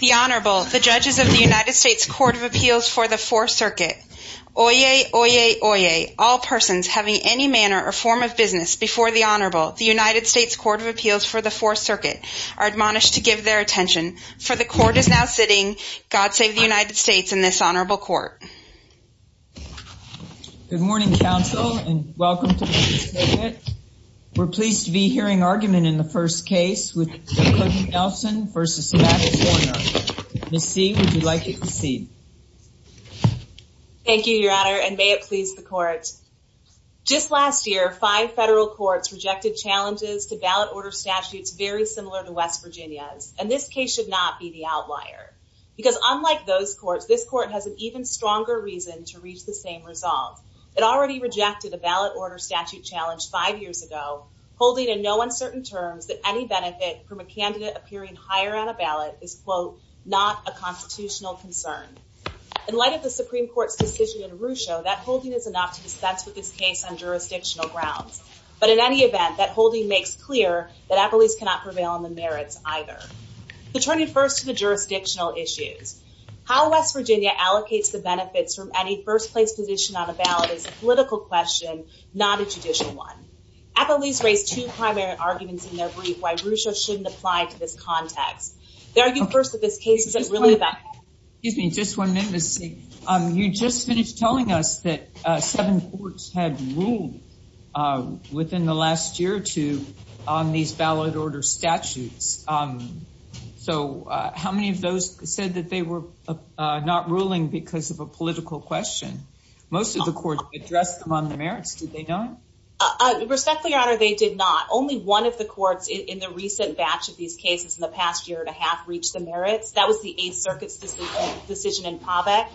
The Honorable, the judges of the United States Court of Appeals for the Fourth Circuit. Oyez, oyez, oyez. All persons having any manner or form of business before the Honorable, the United States Court of Appeals for the Fourth Circuit, are admonished to give their attention. For the court is now sitting. God save the United States and this honorable court. Good morning, counsel, and welcome. We're pleased to be hearing argument in the first case with Nelson v. Mac Warner. Ms. C, would you like to proceed? Thank you, Your Honor, and may it please the court. Just last year, five federal courts rejected challenges to ballot order statutes very similar to West Virginia's, and this case should not be the outlier. Because unlike those of West Virginia, West Virginia has a stronger reason to reach the same resolve. It already rejected a ballot order statute challenge five years ago, holding in no uncertain terms that any benefit from a candidate appearing higher on a ballot is, quote, not a constitutional concern. In light of the Supreme Court's decision in Rucho, that holding is enough to dispense with this case on jurisdictional grounds. But in any event, that holding makes clear that appellees cannot prevail on the merits either. So turning first to the jurisdictional issues, how West Virginia benefits from any first-place position on a ballot is a political question, not a judicial one. Appellees raised two primary arguments in their brief why Rucho shouldn't apply to this context. They argued first that this case is a really bad... Excuse me, just one minute, Ms. C. You just finished telling us that seven courts had ruled within the last year or two on these ballot order statutes. So how many of those said that they were not a political question? Most of the courts addressed them on the merits. Did they not? Respectfully, Your Honor, they did not. Only one of the courts in the recent batch of these cases in the past year and a half reached the merits. That was the Eighth Circuit's decision in Pavek.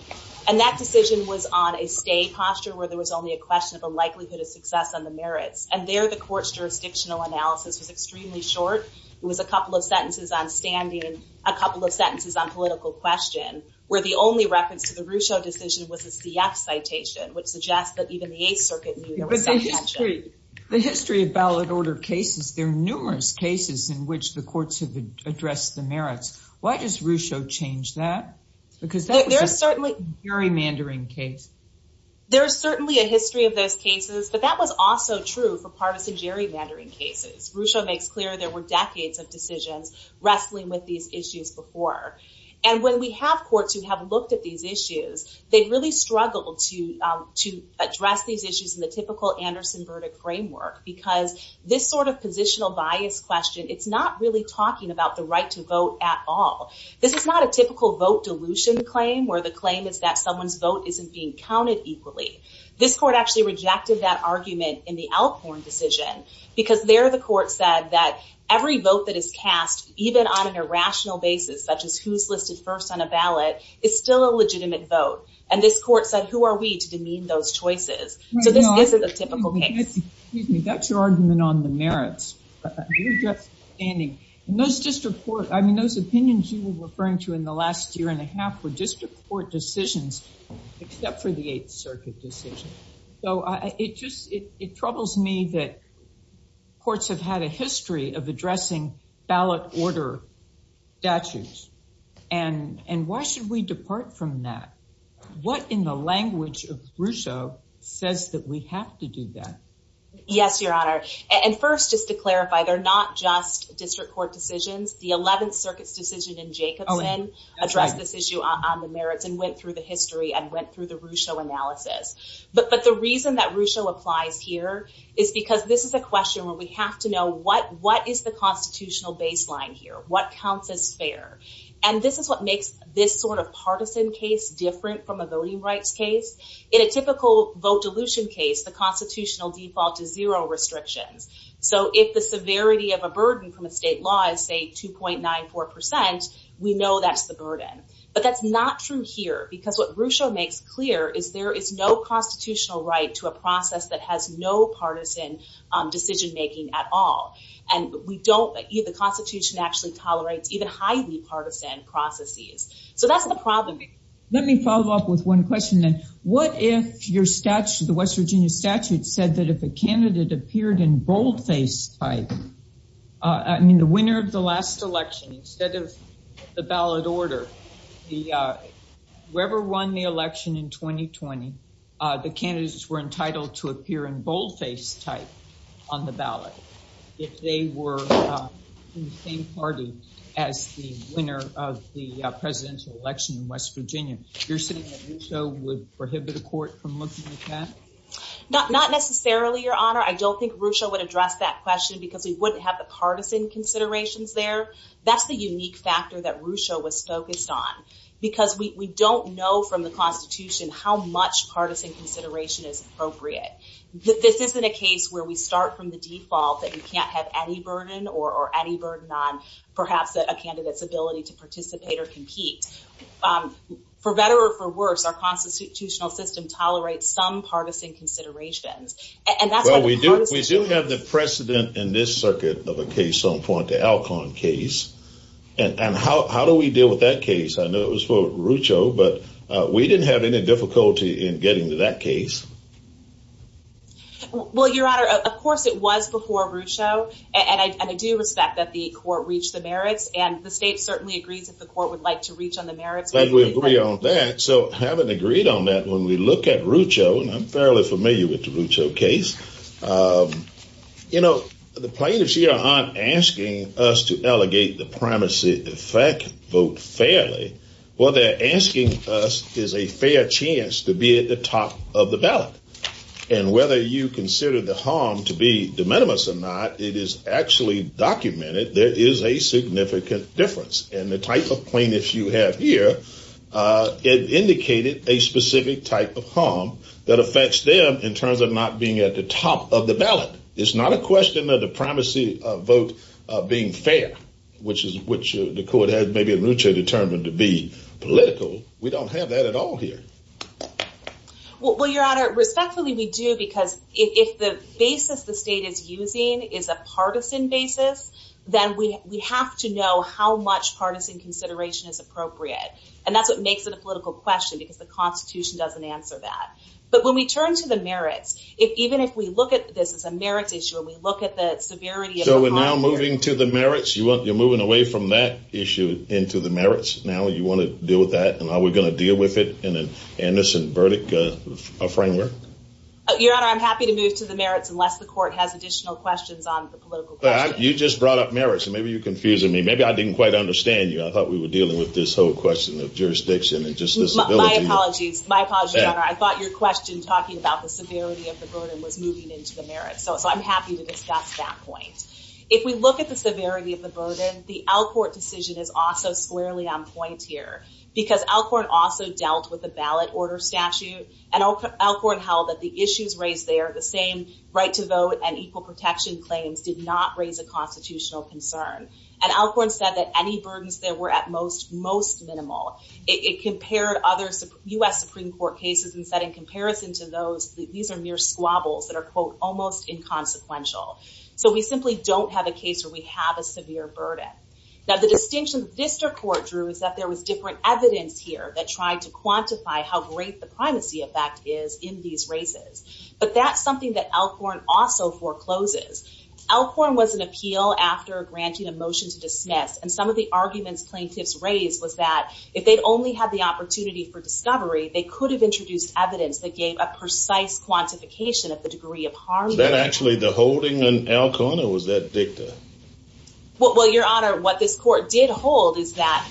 And that decision was on a stay posture where there was only a question of a likelihood of success on the merits. And there, the court's jurisdictional analysis was extremely short. It was a couple of sentences on standing, a couple of sentences on political question, where the only reference to the Rucho decision was a CF citation, which suggests that even the Eighth Circuit knew there was some tension. The history of ballot order cases, there are numerous cases in which the courts have addressed the merits. Why does Rucho change that? Because that was a gerrymandering case. There's certainly a history of those cases, but that was also true for partisan gerrymandering cases. Rucho makes clear there were decades of partisan gerrymandering. So when we have courts who have looked at these issues, they've really struggled to address these issues in the typical Anderson verdict framework, because this sort of positional bias question, it's not really talking about the right to vote at all. This is not a typical vote dilution claim, where the claim is that someone's vote isn't being counted equally. This court actually rejected that argument in the Elkhorn decision, because there the court said that every vote that is cast, even on an irrational basis, such as who's listed first on a ballot, is still a legitimate vote. And this court said, who are we to demean those choices? So this isn't a typical case. Excuse me, that's your argument on the merits. You're just standing. And those district court, I mean, those opinions you were referring to in the last year and a half were district court decisions, except for the Eighth Circuit decision. So it troubles me that courts have had a history of addressing ballot order statutes. And why should we depart from that? What in the language of Rousseau says that we have to do that? Yes, Your Honor. And first, just to clarify, they're not just district court decisions. The 11th Circuit's decision in Jacobson addressed this issue on the merits and went through the history and went through the Rousseau analysis. But the reason that Rousseau applies here is because this is a question where we have to know what is the constitutional baseline here? What counts as fair? And this is what makes this sort of partisan case different from a voting rights case. In a typical vote dilution case, the constitutional default is zero restrictions. So if the severity of a burden from a state law is, say, 2.94%, we know that's the burden. But that's not true here, because what Rousseau makes clear is there is no constitutional right to a process that has no partisan decision making at all. And we don't, the Constitution actually tolerates even highly partisan processes. So that's the problem here. Let me follow up with one question then. What if your statute, the West Virginia statute, said that if a candidate appeared in boldface type, I mean, the winner of the last election instead of the ballot order, whoever won the election in 2020, the candidates were entitled to appear in boldface type on the ballot if they were in the same party as the winner of the presidential election in West Virginia. You're saying that Rousseau would prohibit a court from looking at that? Not necessarily, Your Honor. I don't think Rousseau would address that question because we wouldn't have the partisan considerations there. That's the unique factor that Rousseau was focused on, because we don't know from the Constitution how much partisan consideration is appropriate. This isn't a case where we start from the default that you can't have any burden or any burden on, perhaps, a candidate's ability to participate or compete. For better or for worse, our constitutional system tolerates some partisan considerations. Well, we do have the precedent in this circuit of a case on point to Alcon case. And how do we deal with that case? I know it was for Rousseau, but we didn't have any difficulty in getting to that case. Well, Your Honor, of course, it was before Rousseau. And I do respect that the court reached the merits. And the state certainly agrees that the court would like to reach on the merits. But we agree on that. So having agreed on that, when we look at Rousseau, and I'm fairly familiar with the Rousseau case, the plaintiffs here aren't asking us to allegate the primacy effect vote fairly. What they're asking us is a fair chance to be at the top of the ballot. And whether you consider the harm to be de minimis or not, it is actually documented there is a significant difference. And the type of plaintiffs you have here indicated a specific type of harm that affects them in terms of not being at the top of the ballot. It's not a question of the primacy vote being fair, which the court has maybe in Rousseau determined to be political. We don't have that at all here. Well, Your Honor, respectfully, we do because if the basis the state is using is a partisan basis, then we have to know how much partisan consideration is appropriate. And that's what makes it a political question, because the Constitution doesn't answer that. But when we turn to the merits, even if we look at this as a merits issue, and we look at the severity of the crime here. So we're now moving to the merits? You're moving away from that issue into the merits now? You want to deal with that? And are we going to deal with it in an innocent verdict framework? Your Honor, I'm happy to move to the merits unless the court has brought up merits. And maybe you're confusing me. Maybe I didn't quite understand you. I thought we were dealing with this whole question of jurisdiction and just disability. My apologies, Your Honor. I thought your question talking about the severity of the burden was moving into the merits. So I'm happy to discuss that point. If we look at the severity of the burden, the Alcourt decision is also squarely on point here, because Alcourt also dealt with the ballot order statute. And Alcourt held that the issues raised there, the same right to vote and equal protection claims, did not raise a constitutional concern. And Alcourt said that any burdens there were, at most, most minimal. It compared other U.S. Supreme Court cases and said, in comparison to those, these are mere squabbles that are, quote, almost inconsequential. So we simply don't have a case where we have a severe burden. Now, the distinction the Vista Court drew is that there was different evidence here that tried to quantify how great the primacy effect is in these races. But that's something that Alcourt also forecloses. Alcourt was an appeal after granting a motion to dismiss. And some of the arguments plaintiffs raised was that if they'd only had the opportunity for discovery, they could have introduced evidence that gave a precise quantification of the degree of harm. Was that actually the holding in Alcourt, or was that dicta? Well, Your Honor, what this court did hold is that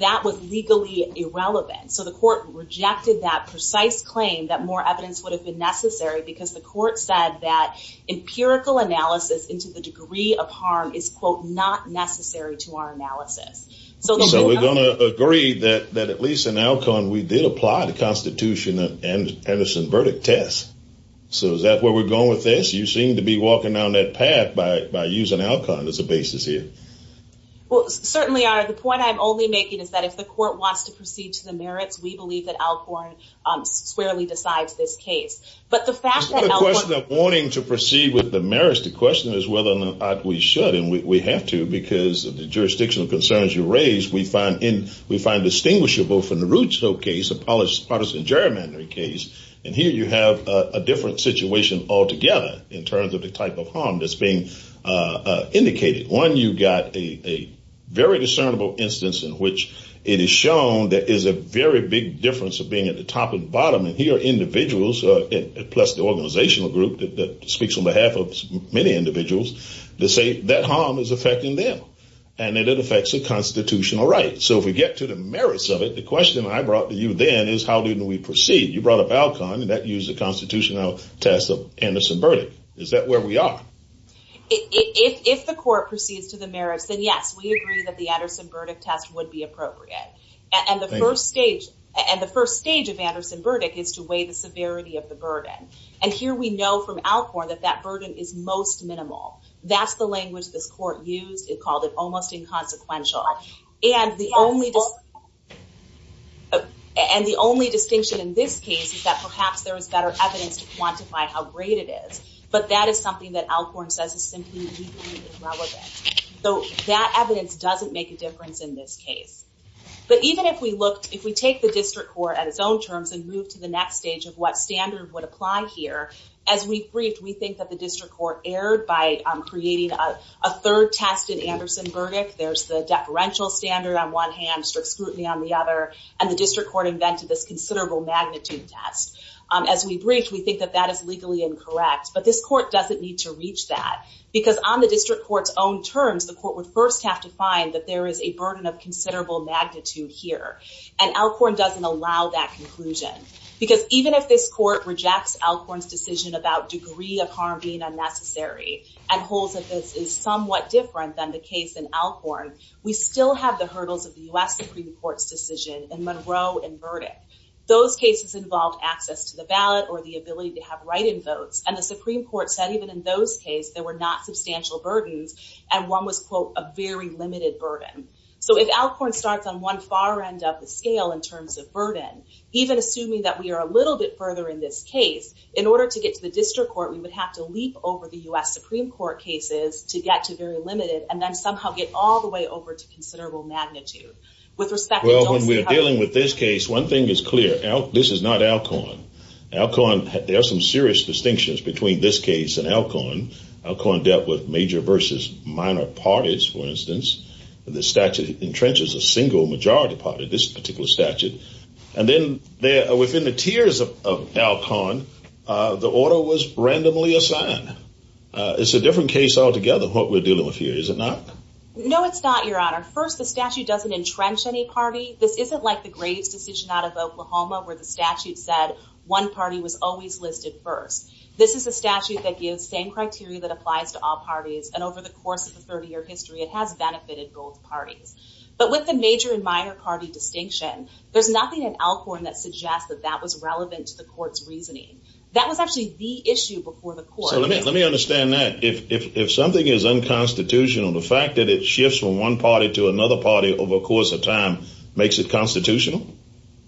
that was legally irrelevant. So the court rejected that precise claim that more evidence would have been necessary because the court said that empirical analysis into the degree of harm is, quote, not necessary to our analysis. So we're going to agree that at least in Alcourt, we did apply the Constitution and Henderson verdict test. So is that where we're going with this? You seem to be walking down that path by using Alcourt as a basis here. Well, certainly, Your Honor, the point I'm only making is that if the court wants to proceed to the merits, we believe that Alcourt squarely decides this case. But the fact that Alcourt- The question of wanting to proceed with the merits, the question is whether or not we should. And we have to because of the jurisdictional concerns you raised, we find distinguishable from the Rootsville case, a partisan gerrymandering case. And here you have a different situation altogether in terms of the type of harm that's being indicated. One, you've got a very discernible instance in which it is shown there is a very big difference of being at the top and bottom. And here individuals, plus the organizational group that speaks on behalf of many individuals, they say that harm is affecting them and that it affects the constitutional rights. So if we get to the merits of it, the question I brought to you then is how do we proceed? You brought up Alcon, and that used the constitutional test of Henderson verdict. Is that where we are? If the court proceeds to the merits, then yes, we agree that the Anderson verdict test would be appropriate. And the first stage of Anderson verdict is to weigh the severity of the burden. And here we know from Alcorn that that burden is most minimal. That's the language this court used. It called it almost inconsequential. And the only distinction in this case is that perhaps there was better evidence to quantify how great it is. But that is something that Alcorn says is simply legally irrelevant. So that evidence doesn't make a difference in this case. But even if we take the district court at its own terms and move to the next stage of what standard would apply here, as we've briefed, we think that the district court erred by creating a third test in Anderson verdict. There's the deferential standard on one hand, strict scrutiny on the other, and the district court invented this considerable magnitude test. As we brief, we think that that is legally incorrect. But this court doesn't need to reach that. Because on the district court's own terms, the court would first have to find that there is a burden of considerable magnitude here. And Alcorn doesn't allow that conclusion. Because even if this court rejects Alcorn's decision about degree of harm being unnecessary and holds that this is somewhat different than the case in Alcorn, we still have the hurdles of the U.S. Supreme Court's decision in Monroe and verdict. Those cases involved access to the ballot or the ability to have write-in votes. And the Supreme Court said even in those case, there were not substantial burdens. And one was, quote, a very limited burden. So if Alcorn starts on one far end of the scale in terms of burden, even assuming that we are a little bit further in this case, in order to get to the district court, we would have to leap over the U.S. Supreme Court cases to get to very limited and then somehow get all the way over to considerable magnitude. With respect to... Well, when we are dealing with this case, one thing is clear. This is not Alcorn. Alcorn, there are some serious distinctions between this case and Alcorn. Alcorn dealt with major versus minor parties, for instance. The statute entrenches a single majority party, this particular statute. And then within the tiers of Alcorn, the order was randomly assigned. It's a different case altogether, what we're dealing with here, is it not? No, it's not, Your Honor. First, the statute doesn't entrench any party. This isn't like the Graves decision out of Oklahoma, where the statute said one party was always listed first. This is a statute that gives same criteria that applies to all parties. And over the course of the 30-year history, it has benefited both parties. But with the major and minor party distinction, there's nothing in Alcorn that suggests that that was relevant to the court's reasoning. That was actually the issue before the court. So let me understand that. If something is unconstitutional, the fact that it shifts from one party to another party over a course of time makes it constitutional?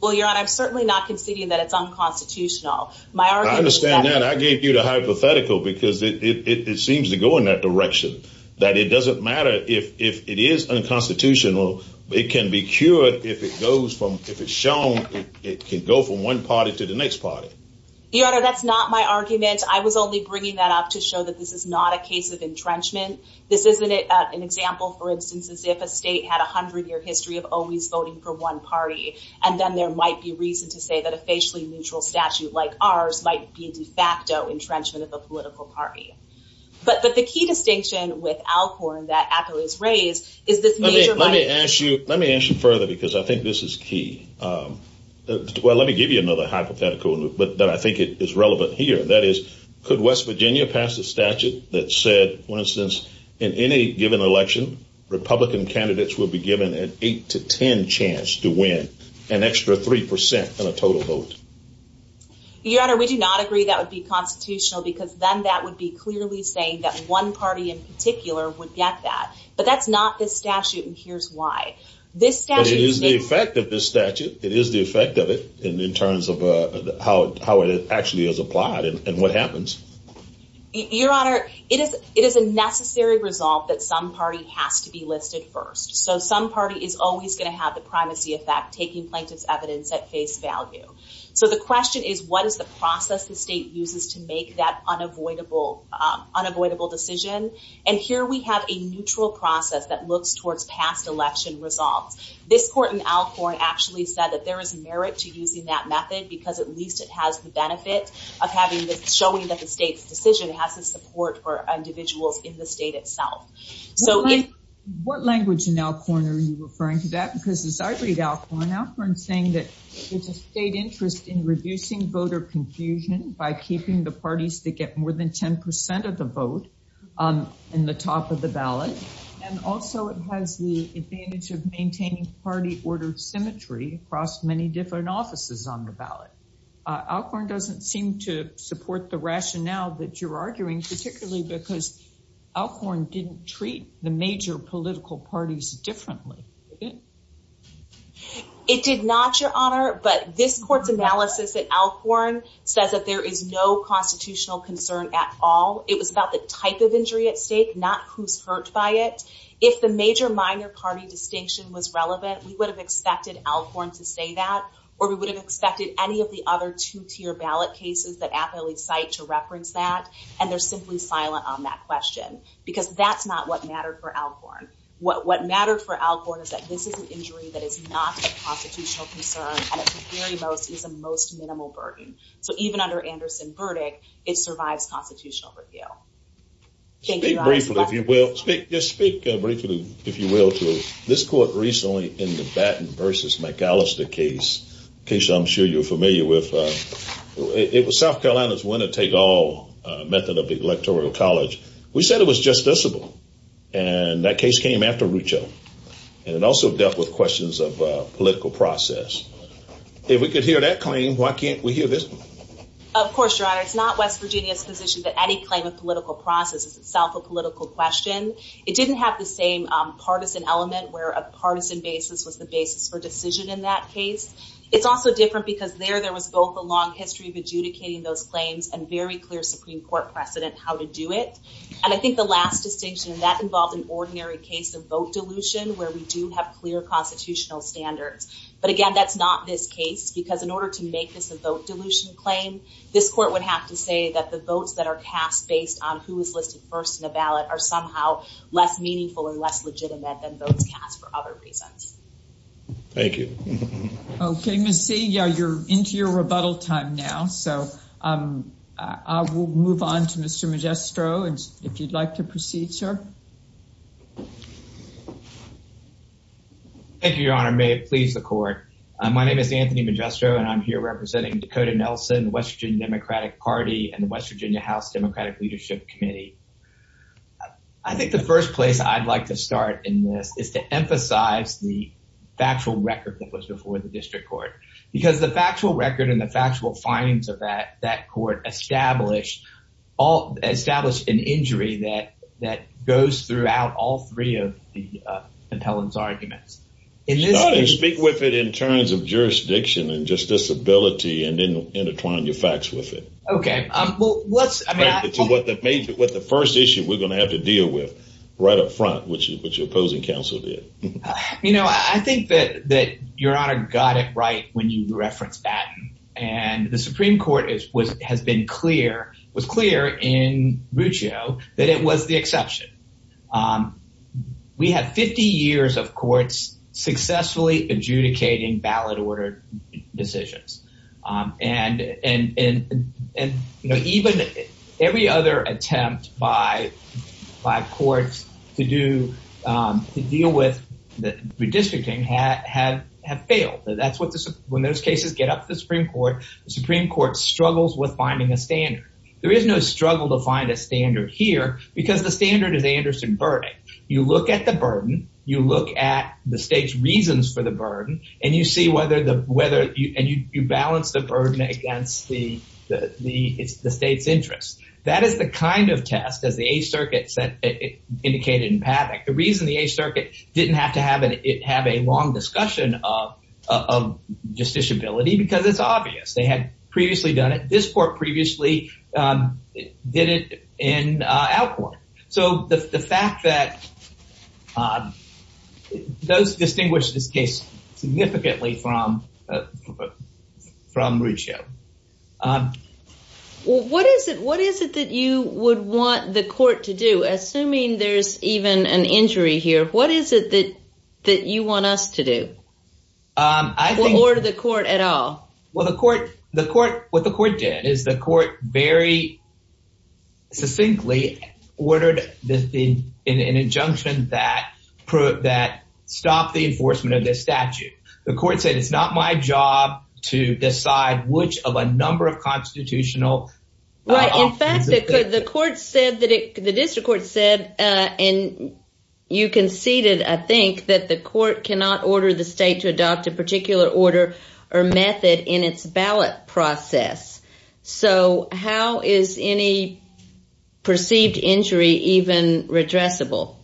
Well, Your Honor, I'm certainly not conceding that it's unconstitutional. I understand that. I gave you the hypothetical because it seems to go in that direction, that it doesn't matter if it is unconstitutional. It can be cured if it goes from, if it's shown, it can go from one party to the next party. Your Honor, that's not my argument. I was only bringing that up to show that this is not a case of entrenchment. This isn't an example, for instance, as if a state had a hundred-year history of always voting for one party. And then there might be reason to say that a facially neutral statute like ours might be entrenchment of a political party. But the key distinction with Alcorn that Acolyte's raised is this major... Let me ask you, let me ask you further, because I think this is key. Well, let me give you another hypothetical, but that I think is relevant here. That is, could West Virginia pass a statute that said, for instance, in any given election, Republican candidates will be given an eight to 10 chance to win an extra 3% on a total vote? Your Honor, we do not agree that would be constitutional because then that would be clearly saying that one party in particular would get that. But that's not this statute, and here's why. This statute... But it is the effect of this statute. It is the effect of it in terms of how it actually is applied and what happens. Your Honor, it is a necessary result that some party has to be listed first. So some party is always going to have the primacy effect, taking plaintiff's evidence at face value. So the question is, what is the process the state uses to make that unavoidable decision? And here we have a neutral process that looks towards past election results. This court in Alcorn actually said that there is merit to using that method because at least it has the benefit of showing that the state's decision has the support for individuals in the state itself. So what language in Alcorn are you referring to that? Because as I read Alcorn, Alcorn's saying that there's a state interest in reducing voter confusion by keeping the parties that get more than 10% of the vote in the top of the ballot. And also it has the advantage of maintaining party order symmetry across many different offices on the ballot. Alcorn doesn't seem to treat the major political parties differently. It did not, Your Honor. But this court's analysis at Alcorn says that there is no constitutional concern at all. It was about the type of injury at stake, not who's hurt by it. If the major-minor party distinction was relevant, we would have expected Alcorn to say that, or we would have expected any of the other two-tier ballot cases that apparently cite to reference that. And they're simply silent on that question because that's not what mattered for Alcorn. What mattered for Alcorn is that this is an injury that is not a constitutional concern, and at the very most, is a most minimal burden. So even under Anderson's verdict, it survives constitutional review. Thank you, Your Honor. Just speak briefly, if you will, to this court recently in the Batten v. McAllister case, a case I'm sure you're familiar with. It was South Carolina's win-or-take-all method of electoral college. We said it was justiciable, and that case came after Rucho, and it also dealt with questions of political process. If we could hear that claim, why can't we hear this? Of course, Your Honor. It's not West Virginia's position that any claim of political process is itself a political question. It didn't have the same partisan element, where a partisan basis was the basis for decision in that case. It's also different because there, there was both a long history of adjudicating those claims and very clear Supreme Court precedent how to do it. And I think the last distinction, and that involved an ordinary case of vote dilution, where we do have clear constitutional standards. But again, that's not this case because in order to make this a vote dilution claim, this court would have to say that the votes that are cast based on who was listed first in the ballot are somehow less meaningful and less legitimate than votes cast for other reasons. Thank you. Okay, Ms. Sia, you're into your rebuttal time now. So I will move on to Mr. Magistro, if you'd like to proceed, sir. Thank you, Your Honor. May it please the Court. My name is Anthony Magistro, and I'm here representing Dakota Nelson, West Virginia Democratic Party, and the West Virginia House Democratic Leadership Committee. I think the first place I'd like to start in this is to emphasize the factual record that was before the district court. Because the factual record and the factual findings of that, that court established, all established an injury that, that goes throughout all three of the appellant's arguments. Start and speak with it in terms of jurisdiction and disability, and then intertwine your facts with it. Okay, well, let's, I mean, what the first issue we're going to have to deal with right up front, which is what your opposing counsel did. You know, I think that, that Your Honor got it right when you referenced that, and the Supreme Court has been clear, was clear in Ruccio that it was the exception. We had 50 years of courts successfully adjudicating ballot order decisions. And, and, and, and, you know, even every other attempt by, by courts to do, to deal with the redistricting have, have, have failed. That's what the, when those cases get up to the Supreme Court, the Supreme Court struggles with finding a standard. There is no struggle to find a standard here, because the standard is Anderson-Burdick. You look at the burden, you look at the state's reasons for the burden, and you see whether the, whether you, and you, you balance the burden against the, the, the state's interests. That is the kind of test, as the Eighth Circuit said, indicated in Paddock. The reason the Eighth Circuit didn't have to have an, have a long discussion of, of justiciability, because it's obvious. They had a, those distinguish this case significantly from, from Ruccio. Well, what is it, what is it that you would want the court to do, assuming there's even an injury here? What is it that, that you want us to do? I think... Or the court at all? Well, the court, the court, what the court did is the court very succinctly ordered the, the, an injunction that put, that stopped the enforcement of this statute. The court said, it's not my job to decide which of a number of constitutional... Right. In fact, the court said that it, the district court said, and you conceded, I think, that the court cannot order the state to adopt a particular order or method in its ballot process. So, how is any perceived injury even redressable?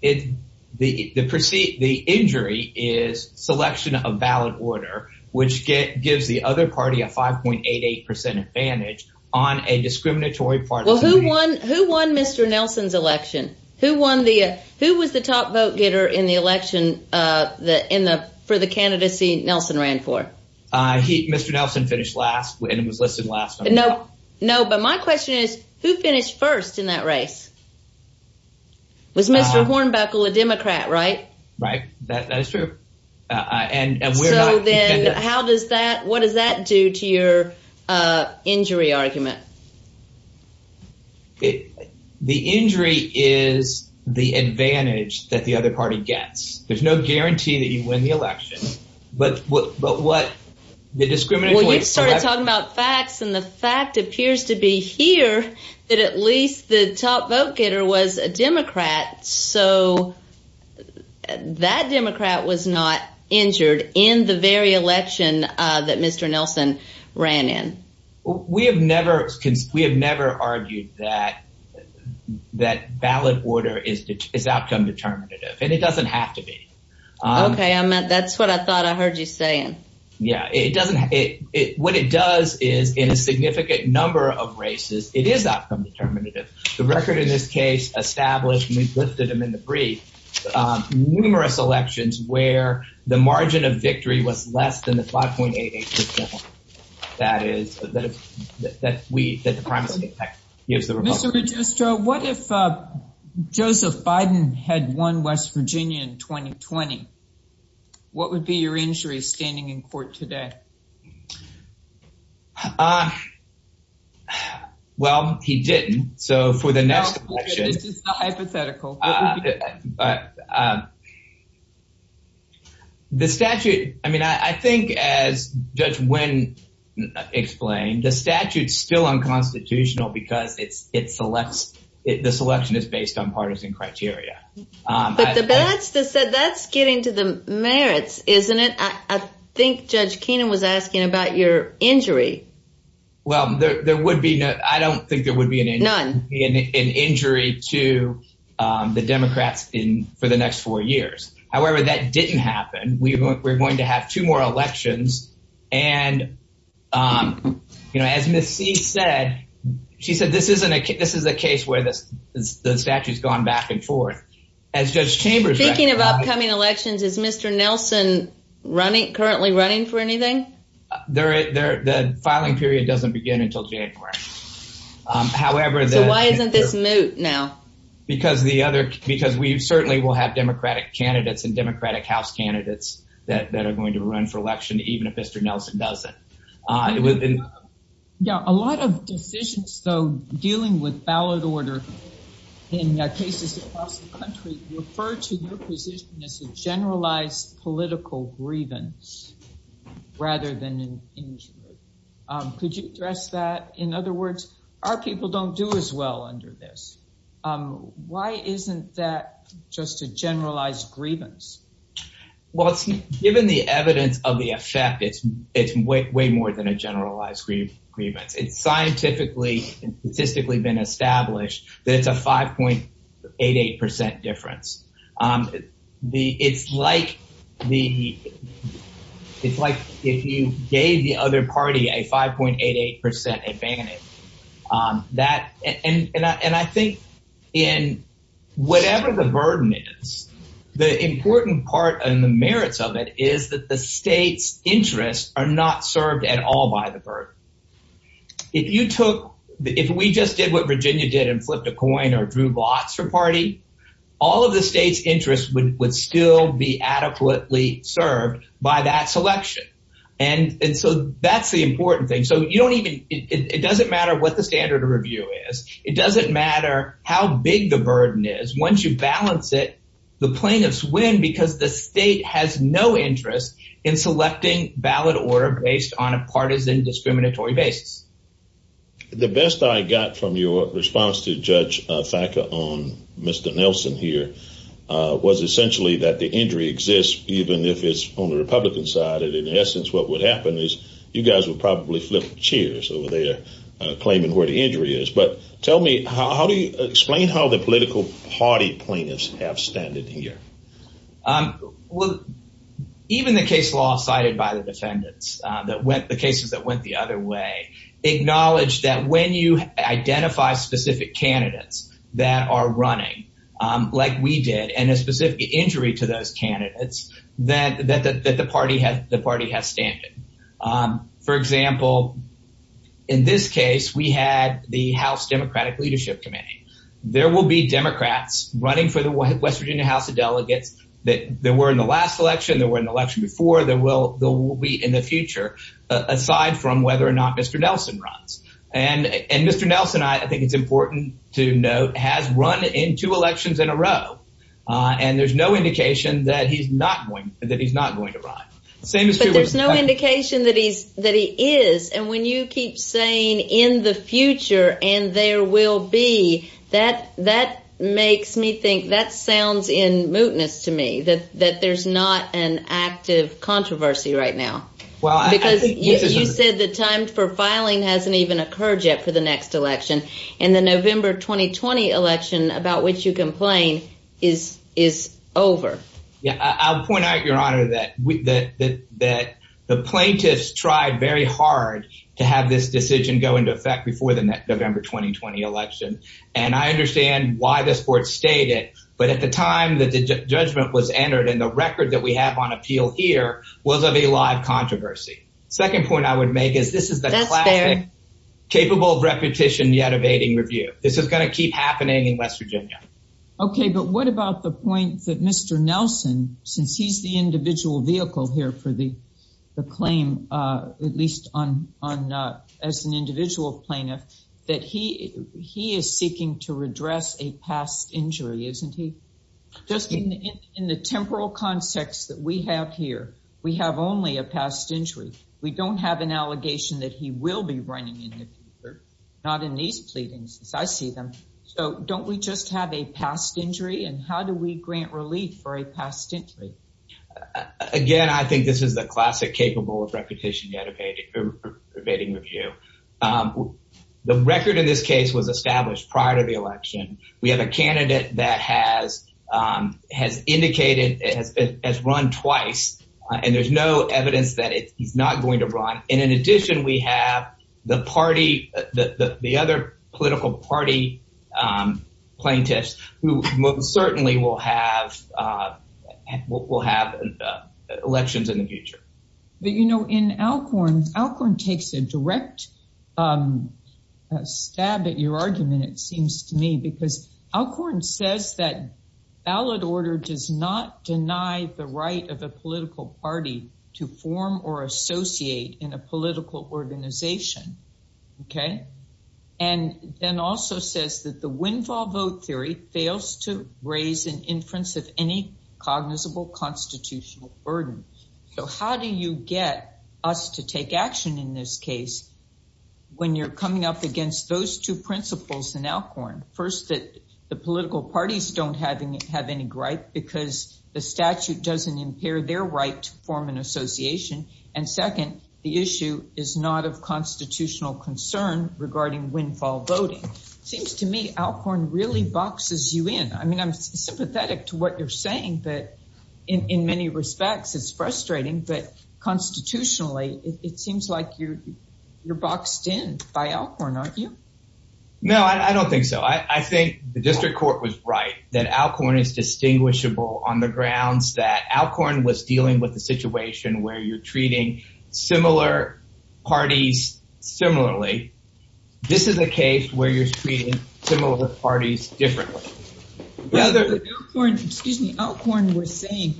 It, the, the perceived, the injury is selection of ballot order, which get, gives the other party a 5.88% advantage on a discriminatory part... Well, who won, who won Mr. Nelson's election? Who won the, who was the top vote getter in the election, in the, for the candidacy Nelson ran for? I, he, Mr. Nelson finished last and was listed last on the... No, no, but my question is, who finished first in that race? Was Mr. Hornbuckle a Democrat, right? Right. That, that is true. And, and we're not... So, then how does that, what does that do to your injury argument? The injury is the advantage that the other party gets. There's no guarantee that you the discriminatory... Well, you started talking about facts and the fact appears to be here, that at least the top vote getter was a Democrat. So, that Democrat was not injured in the very election that Mr. Nelson ran in. We have never, we have never argued that, that ballot order is, is outcome determinative. And it doesn't have to be. Okay. I meant, that's what I thought I heard you saying. Yeah, it doesn't, it, it, what it does is in a significant number of races, it is outcome determinative. The record in this case established, and we've lifted them in the brief, numerous elections where the margin of victory was less than the 5.88%. That is, that, that we, that the primacy effect gives the Republican... Mr. Registro, what if Joseph Biden had won West Virginia in 2020? What would be your injury standing in court today? Well, he didn't. So, for the next election... This is hypothetical. The statute, I mean, I think as Judge Wynn explained, the statute's still unconstitutional because it's, it selects, the selection is based on partisan criteria. But the badge that said that's getting to the merits, isn't it? I think Judge Keenan was asking about your injury. Well, there would be no, I don't think there would be an injury to the Democrats in, for the next four years. However, that didn't happen. We were going to have two more elections. And, you know, as Ms. C said, she said, this isn't a, this is a case where this, the statute's gone back and forth. As Judge Chambers... Speaking of upcoming elections, is Mr. Nelson running, currently running for anything? The filing period doesn't begin until January. However... So why isn't this moot now? Because the other, because we certainly will have Democratic candidates and Democratic House candidates that are going to run for election, even if Mr. Nelson doesn't. It was... A lot of decisions, though, dealing with ballot order in cases across the country, refer to your position as a generalized political grievance, rather than an injury. Could you address that? In other words, our people don't do as well under this. Why isn't that just a generalized grievance? Well, given the evidence of the effect, it's way more than a generalized grievance. It's scientifically and statistically been established that it's a 5.88% difference. It's like the, it's like if you gave the other party a 5.88% advantage. And I think in whatever the burden is, the important part and the merits of it is that the state's interests are not served at all by the burden. If you took, if we just did what Virginia did and flipped a coin or drew lots for party, all of the state's interests would still be adequately served by that selection. And so that's the important thing. So you don't even, it doesn't matter what the standard of review is. It doesn't matter how big the burden is. Once you balance it, the plaintiffs win because the state has no interest in selecting ballot order based on a partisan discriminatory basis. The best I got from your response to Judge Thacker on Mr. Nelson here was essentially that the injury exists, even if it's on the Republican side. And in essence, what would me, how do you explain how the political party plaintiffs have standed here? Well, even the case law cited by the defendants that went, the cases that went the other way, acknowledge that when you identify specific candidates that are running, like we did, and a specific injury to those candidates, that the party has, the party has standing. For example, in this case, we had the House Democratic Leadership Committee. There will be Democrats running for the West Virginia House of Delegates that were in the last election, that were in the election before, that will be in the future, aside from whether or not Mr. Nelson runs. And Mr. Nelson, I think it's important to note, has run in two elections in a that he is. And when you keep saying in the future, and there will be that, that makes me think that sounds in mootness to me that that there's not an active controversy right now. Well, because you said the time for filing hasn't even occurred yet for the next election. And the November 2020 election about which you complain is, is over. Yeah, I'll point out, Your Honor, that we that that the plaintiffs tried very hard to have this decision go into effect before the November 2020 election. And I understand why this board stated, but at the time that the judgment was entered in the record that we have on appeal here was of a live controversy. Second point I would make is this is capable of repetition yet evading review. This is going to keep happening in West Virginia. Okay, but what about the point that Mr. Nelson, since he's the individual vehicle here for the claim, at least on as an individual plaintiff, that he is seeking to redress a past injury, isn't he? Just in the temporal context that we have here, we have only a past injury. We don't have an allegation that he will be running in the future, not in these pleadings, as I see them. So don't we just have a past injury? And how do we grant relief for a past injury? Again, I think this is the classic capable of repetition yet evading review. The record in this case was established prior to the election. We have a candidate that has indicated it has run twice, and there's no evidence that he's not going to run. And in addition, we have the party, the other political party plaintiffs, who most certainly will have elections in the future. But you know, in Alcorn, Alcorn takes a direct stab at your argument, it seems to me, because Alcorn says that ballot order does not deny the right of a political party to form or associate in a political organization. And then also says that the windfall vote theory fails to raise an inference of any cognizable constitutional burden. So how do you get us to take action in this case, when you're coming up against those two principles in Alcorn? First, that the political parties don't have any gripe, because the statute doesn't impair their right to form an association. And second, the issue is not of constitutional concern regarding windfall voting. Seems to me, Alcorn really boxes you in. I mean, I'm sympathetic to what you're saying. But in many respects, it's frustrating. But constitutionally, it seems like you're boxed in by Alcorn, aren't you? No, I don't think so. I think the Alcorn is distinguishable on the grounds that Alcorn was dealing with a situation where you're treating similar parties similarly. This is a case where you're treating similar parties differently. Excuse me, Alcorn was saying,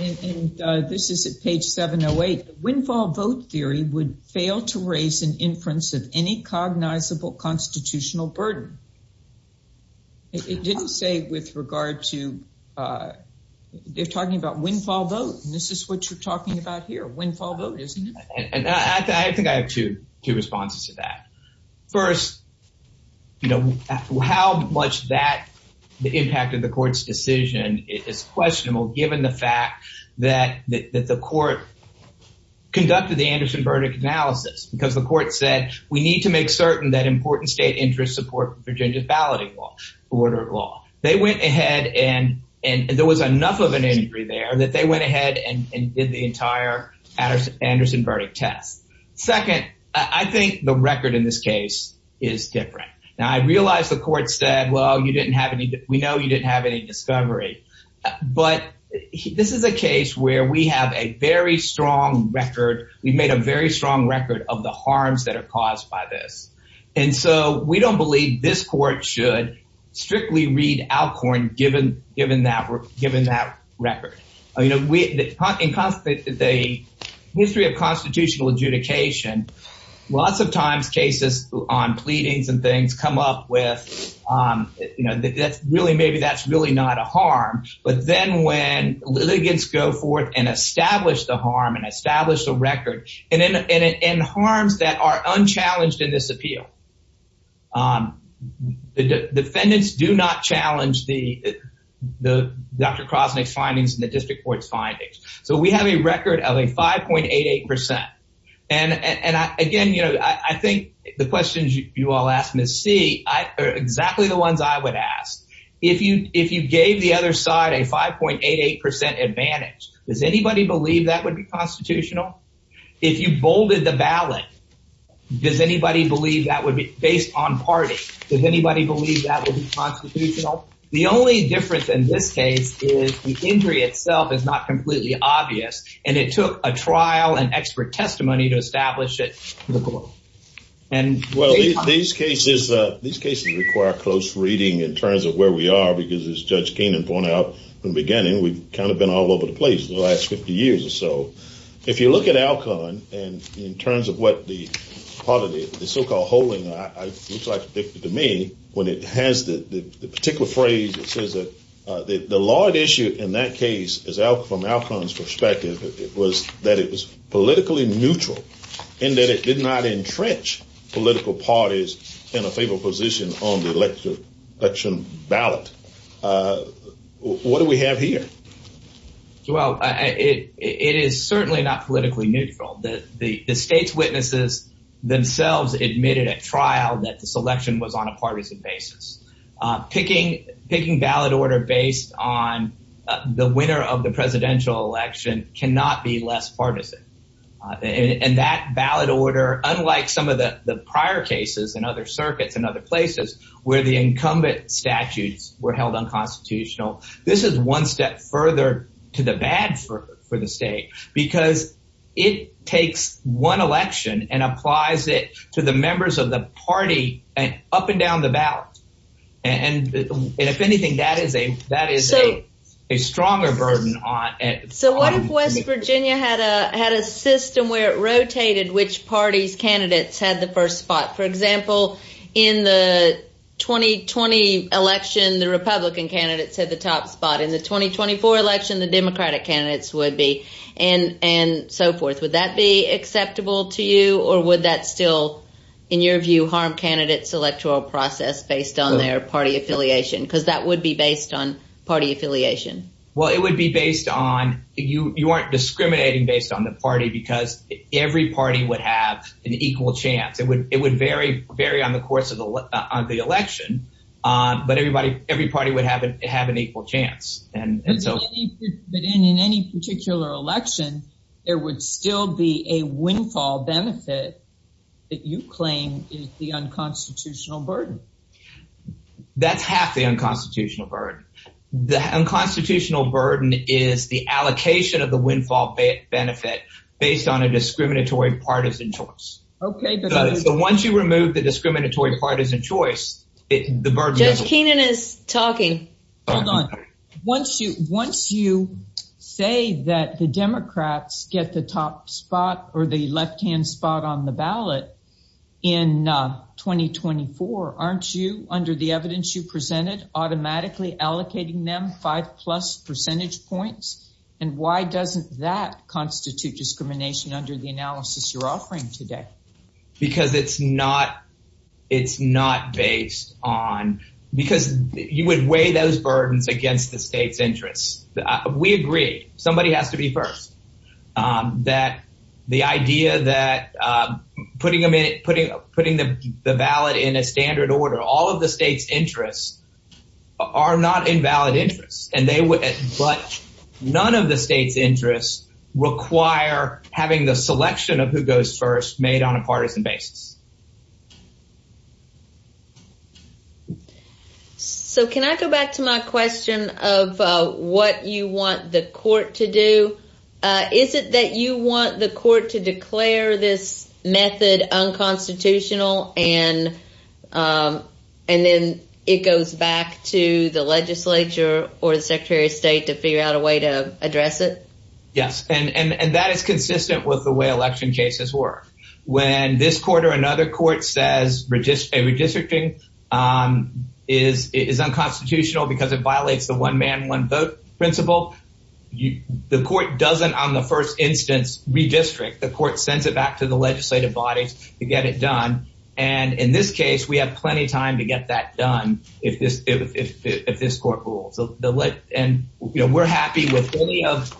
and this is at page 708, windfall vote theory would fail to raise an inference of any cognizable constitutional burden. It didn't say with regard to, they're talking about windfall vote, and this is what you're talking about here, windfall vote, isn't it? I think I have two responses to that. First, how much that impacted the court's decision is questionable, given the fact that the court conducted the Anderson verdict analysis. Because the court said, we need to make certain that important state interests support Virginia's balloting law, order of law. They went ahead and there was enough of an injury there that they went ahead and did the entire Anderson verdict test. Second, I think the record in this case is different. Now, I realize the court said, well, we know you didn't have any discovery. But this is a case where we have a very strong record of the harms that are caused by this. And so we don't believe this court should strictly read Alcorn given that record. In the history of constitutional adjudication, lots of times cases on pleadings and things come up with, maybe that's really not a harm. But then when litigants go forth and establish the harm and establish the record, and in harms that are unchallenged in this appeal, the defendants do not challenge the Dr. Krosnick's findings and the district court's findings. So we have a record of a 5.88%. And again, I think the questions you all asked, Ms. C, are exactly the ones I would ask. If you gave the other side a 5.88% advantage, does anybody believe that would be constitutional? If you bolded the ballot, does anybody believe that would be based on party? Does anybody believe that would be constitutional? The only difference in this case is the injury itself is not completely obvious. And it took a trial and expert testimony to establish it. And well, these cases require close reading in terms of where we are, because as Judge Keenan pointed out in the beginning, we've kind of been all over the place the last 50 years or so. If you look at Alcon, and in terms of what the part of the so-called holding looks like to me, when it has the particular phrase that says that the large issue in that case is from Alcon's perspective, it was that it was politically neutral, and that it did not entrench political parties in a favorable position on the election ballot. What do we have here? So, well, it is certainly not politically neutral. The state's witnesses themselves admitted at trial that this election was on a partisan basis. Picking ballot order based on the winner of the presidential election cannot be less partisan. And that ballot order, unlike some of the prior cases in other circuits and other places, where the incumbent statutes were held unconstitutional, this is one step further to the bad for the state, because it takes one election and applies it to the members of the party up and down the ballot. And if anything, that is a stronger burden. So what if West Virginia had a system where it rotated which party's candidates had the first spot? For example, in the 2020 election, the Republican candidates had the top spot. In the 2024 election, the Democratic candidates would be, and so forth. Would that be acceptable to you? Or would that still, in your view, harm candidates' electoral process based on their party affiliation? Because that would be based on party affiliation. Well, it would be it would vary on the course of the election, but every party would have an equal chance. In any particular election, there would still be a windfall benefit that you claim is the unconstitutional burden. That's half the unconstitutional burden. The unconstitutional burden is the allocation of the windfall benefit based on a discriminatory partisan choice. So once you remove the discriminatory partisan choice, the burden... Judge Keenan is talking. Hold on. Once you say that the Democrats get the top spot or the left-hand spot on the ballot in 2024, aren't you, under the evidence you presented, automatically allocating them five plus percentage points? And why doesn't that constitute discrimination under the analysis you're offering today? Because it's not based on... Because you would weigh those burdens against the state's interests. We agree, somebody has to be first, that the idea that putting the ballot in a standard order, all of the state's interests are not invalid interests. But none of the state's goes first, made on a partisan basis. So can I go back to my question of what you want the court to do? Is it that you want the court to declare this method unconstitutional and then it goes back to the legislature or the Secretary of State to figure out a way to address it? Yes, and that is consistent with the way election cases work. When this court or another court says redistricting is unconstitutional because it violates the one man, one vote principle, the court doesn't, on the first instance, redistrict. The court sends it back to the legislative bodies to get it done. And in this case, we have plenty of time to get that done if this court rules. And we're happy with any of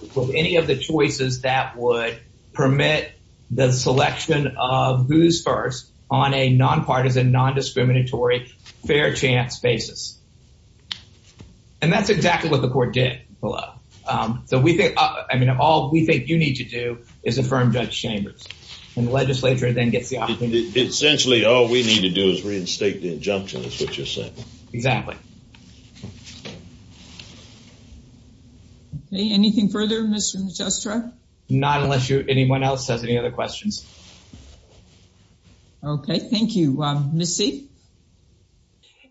the choices that would permit the selection of who's first on a non-partisan, non-discriminatory, fair chance basis. And that's exactly what the court did below. So we think, I mean, all we think you need to do is affirm Judge Chambers and the legislature then gets the opportunity. Essentially, all we need to do is reinstate the exactly. Okay, anything further, Mr. Magistra? Not unless anyone else has any other questions. Okay, thank you. Ms. C?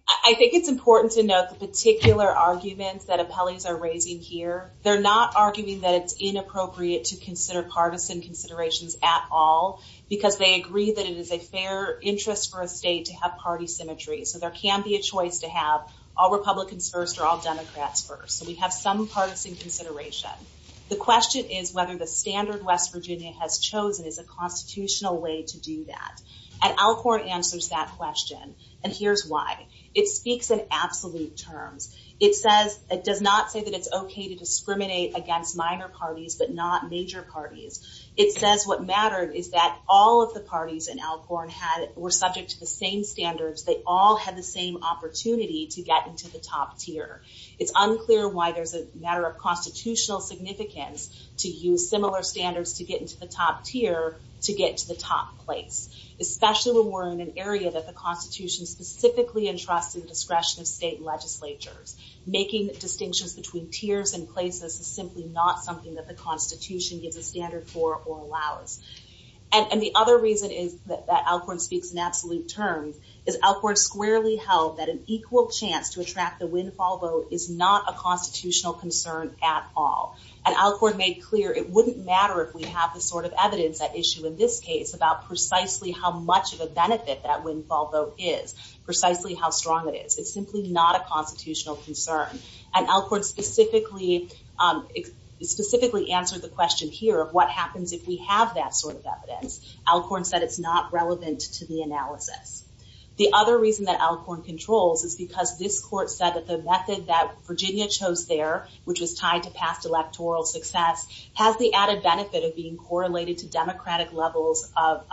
I think it's important to note the particular arguments that appellees are raising here. They're not arguing that it's inappropriate to consider partisan considerations at all because they agree that it is a fair interest for a state to have party symmetry. So there can be a choice to have all Republicans first or all Democrats first. So we have some partisan consideration. The question is whether the standard West Virginia has chosen is a constitutional way to do that. And Alcorn answers that question. And here's why. It speaks in absolute terms. It says, it does not say that it's okay to discriminate against minor parties, but not major parties. It says what mattered is that all of the parties in Alcorn were subject to the same standards. They all had the same opportunity to get into the top tier. It's unclear why there's a matter of constitutional significance to use similar standards to get into the top tier to get to the top place, especially when we're in an area that the constitution specifically entrusts in the discretion of state legislatures. Making distinctions between tiers and places is simply not something that the constitution gives a standard for or allows. And the other reason is that Alcorn speaks in absolute terms is Alcorn squarely held that an equal chance to attract the windfall vote is not a constitutional concern at all. And Alcorn made clear it wouldn't matter if we have the sort of evidence at issue in this case about precisely how much of a benefit that windfall vote is, precisely how strong it is. It's simply not a constitutional concern. And Alcorn specifically answered the question here of what happens if we have that sort of evidence. Alcorn said it's not relevant to the analysis. The other reason that Alcorn controls is because this court said that the method that Virginia chose there, which was tied to past electoral success, has the added benefit of being correlated to democratic levels of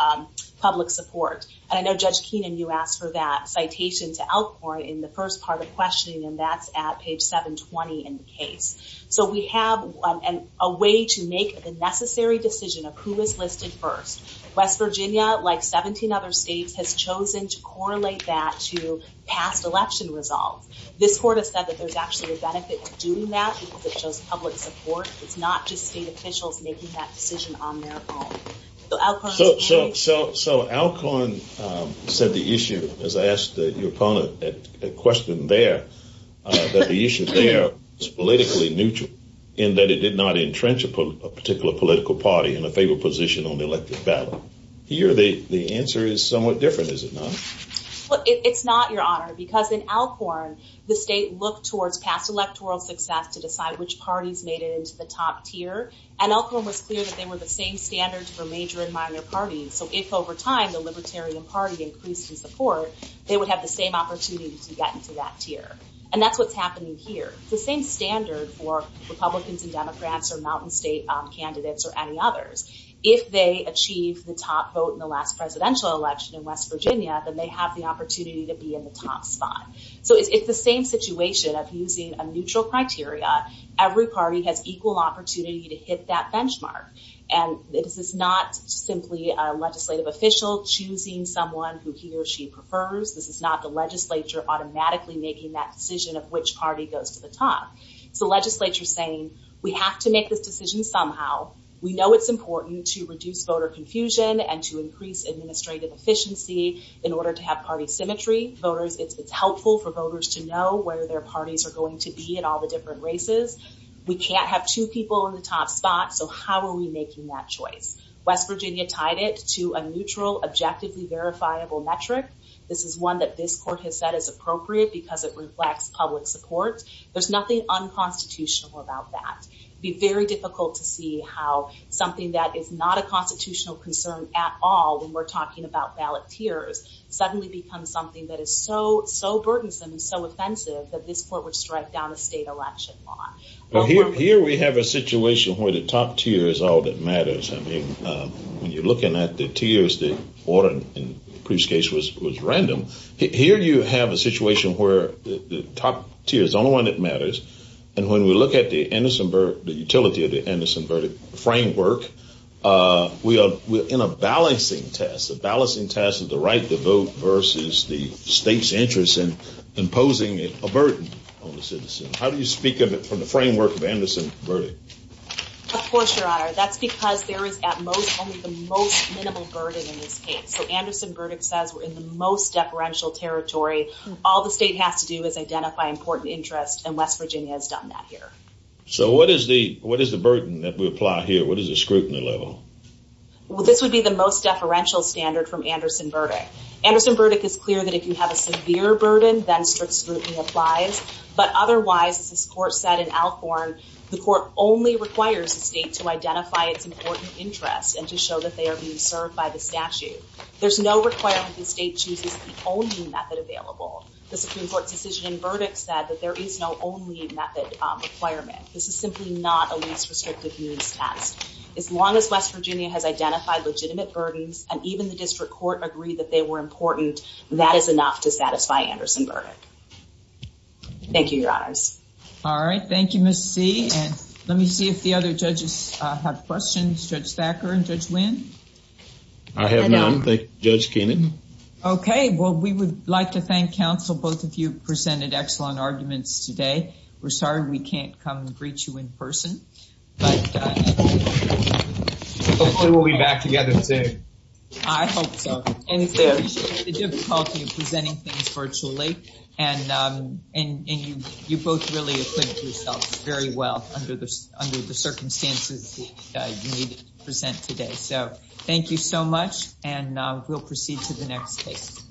public support. And I know Judge Keenan, you asked for that citation to Alcorn in the first part of questioning, and that's at page 720 in the case. So we have a way to make the necessary decision of who is listed first. West Virginia, like 17 other states, has chosen to correlate that to past election results. This court has said that there's actually a benefit to doing that because it shows public support. It's not just state officials making that decision on their own. So Alcorn said the issue, as I asked your opponent at question there, that the issue there is politically neutral in that it did not have a negative impact on the state. And Alcorn said that there's a benefit to doing that. Here the answer is somewhat different, is it not? It's not, Your Honor, because in Alcorn, the state looked towards past electoral success to decide which parties made it into the top tier, and Alcorn was clear that they were the same standards for major and minor parties. So if, over time, the Libertarian Party increased in support, they would have the same opportunity to get into that tier. And that's what's happening here. It's the same standard for top vote in the last presidential election in West Virginia, that they have the opportunity to be in the top spot. So it's the same situation of using a neutral criteria. Every party has equal opportunity to hit that benchmark. And this is not simply a legislative official choosing someone who he or she prefers. This is not the legislature automatically making that decision of which party goes to the top. It's the legislature saying, we have to make this decision somehow. We know it's and to increase administrative efficiency in order to have party symmetry. It's helpful for voters to know where their parties are going to be in all the different races. We can't have two people in the top spot, so how are we making that choice? West Virginia tied it to a neutral, objectively verifiable metric. This is one that this court has said is appropriate because it reflects public support. There's nothing unconstitutional about that. It'd be very difficult to see how something that is not a constitutional concern at all, when we're talking about ballot tiers, suddenly become something that is so burdensome and so offensive that this court would strike down a state election law. Here we have a situation where the top tier is all that matters. I mean, when you're looking at the tiers, the Warren and Cruz case was random. Here you have a situation where the top tier is the only one that matters. And when we look at the utility of the Anderson-Burdick framework, we are in a balancing test. A balancing test of the right to vote versus the state's interest in imposing a burden on the citizen. How do you speak of it from the framework of Anderson-Burdick? Of course, Your Honor. That's because there is at most only the most minimal burden in this case. So Anderson-Burdick says we're in the most deferential territory. All the state has to do is identify important interest, and West Virginia has done that here. So what is the burden that we apply here? What is the scrutiny level? Well, this would be the most deferential standard from Anderson-Burdick. Anderson-Burdick is clear that if you have a severe burden, then strict scrutiny applies. But otherwise, as this court said in Alcorn, the court only requires the state to identify its important interest and to show that they are being served by the statute. There's no requirement the state chooses the only method available. The Supreme Court's decision in Burdick said that there is no only method requirement. This is simply not a least restrictive means test. As long as West Virginia has identified legitimate burdens, and even the district court agreed that they were important, that is enough to satisfy Anderson-Burdick. Thank you, Your Honors. All right. Thank you, Ms. C. And let me see if the other judges have questions. Judge Thacker and Judge Wynn. I have none. Thank you, Judge Kannon. Okay. Well, we would like to thank counsel. Both of you presented excellent arguments today. We're sorry we can't come and greet you in person. Hopefully, we'll be back together soon. I hope so. And the difficulty of presenting things virtually, and you both really equipped yourselves very well under the circumstances that you need to present today. So thank you so much, and we'll proceed to the next case.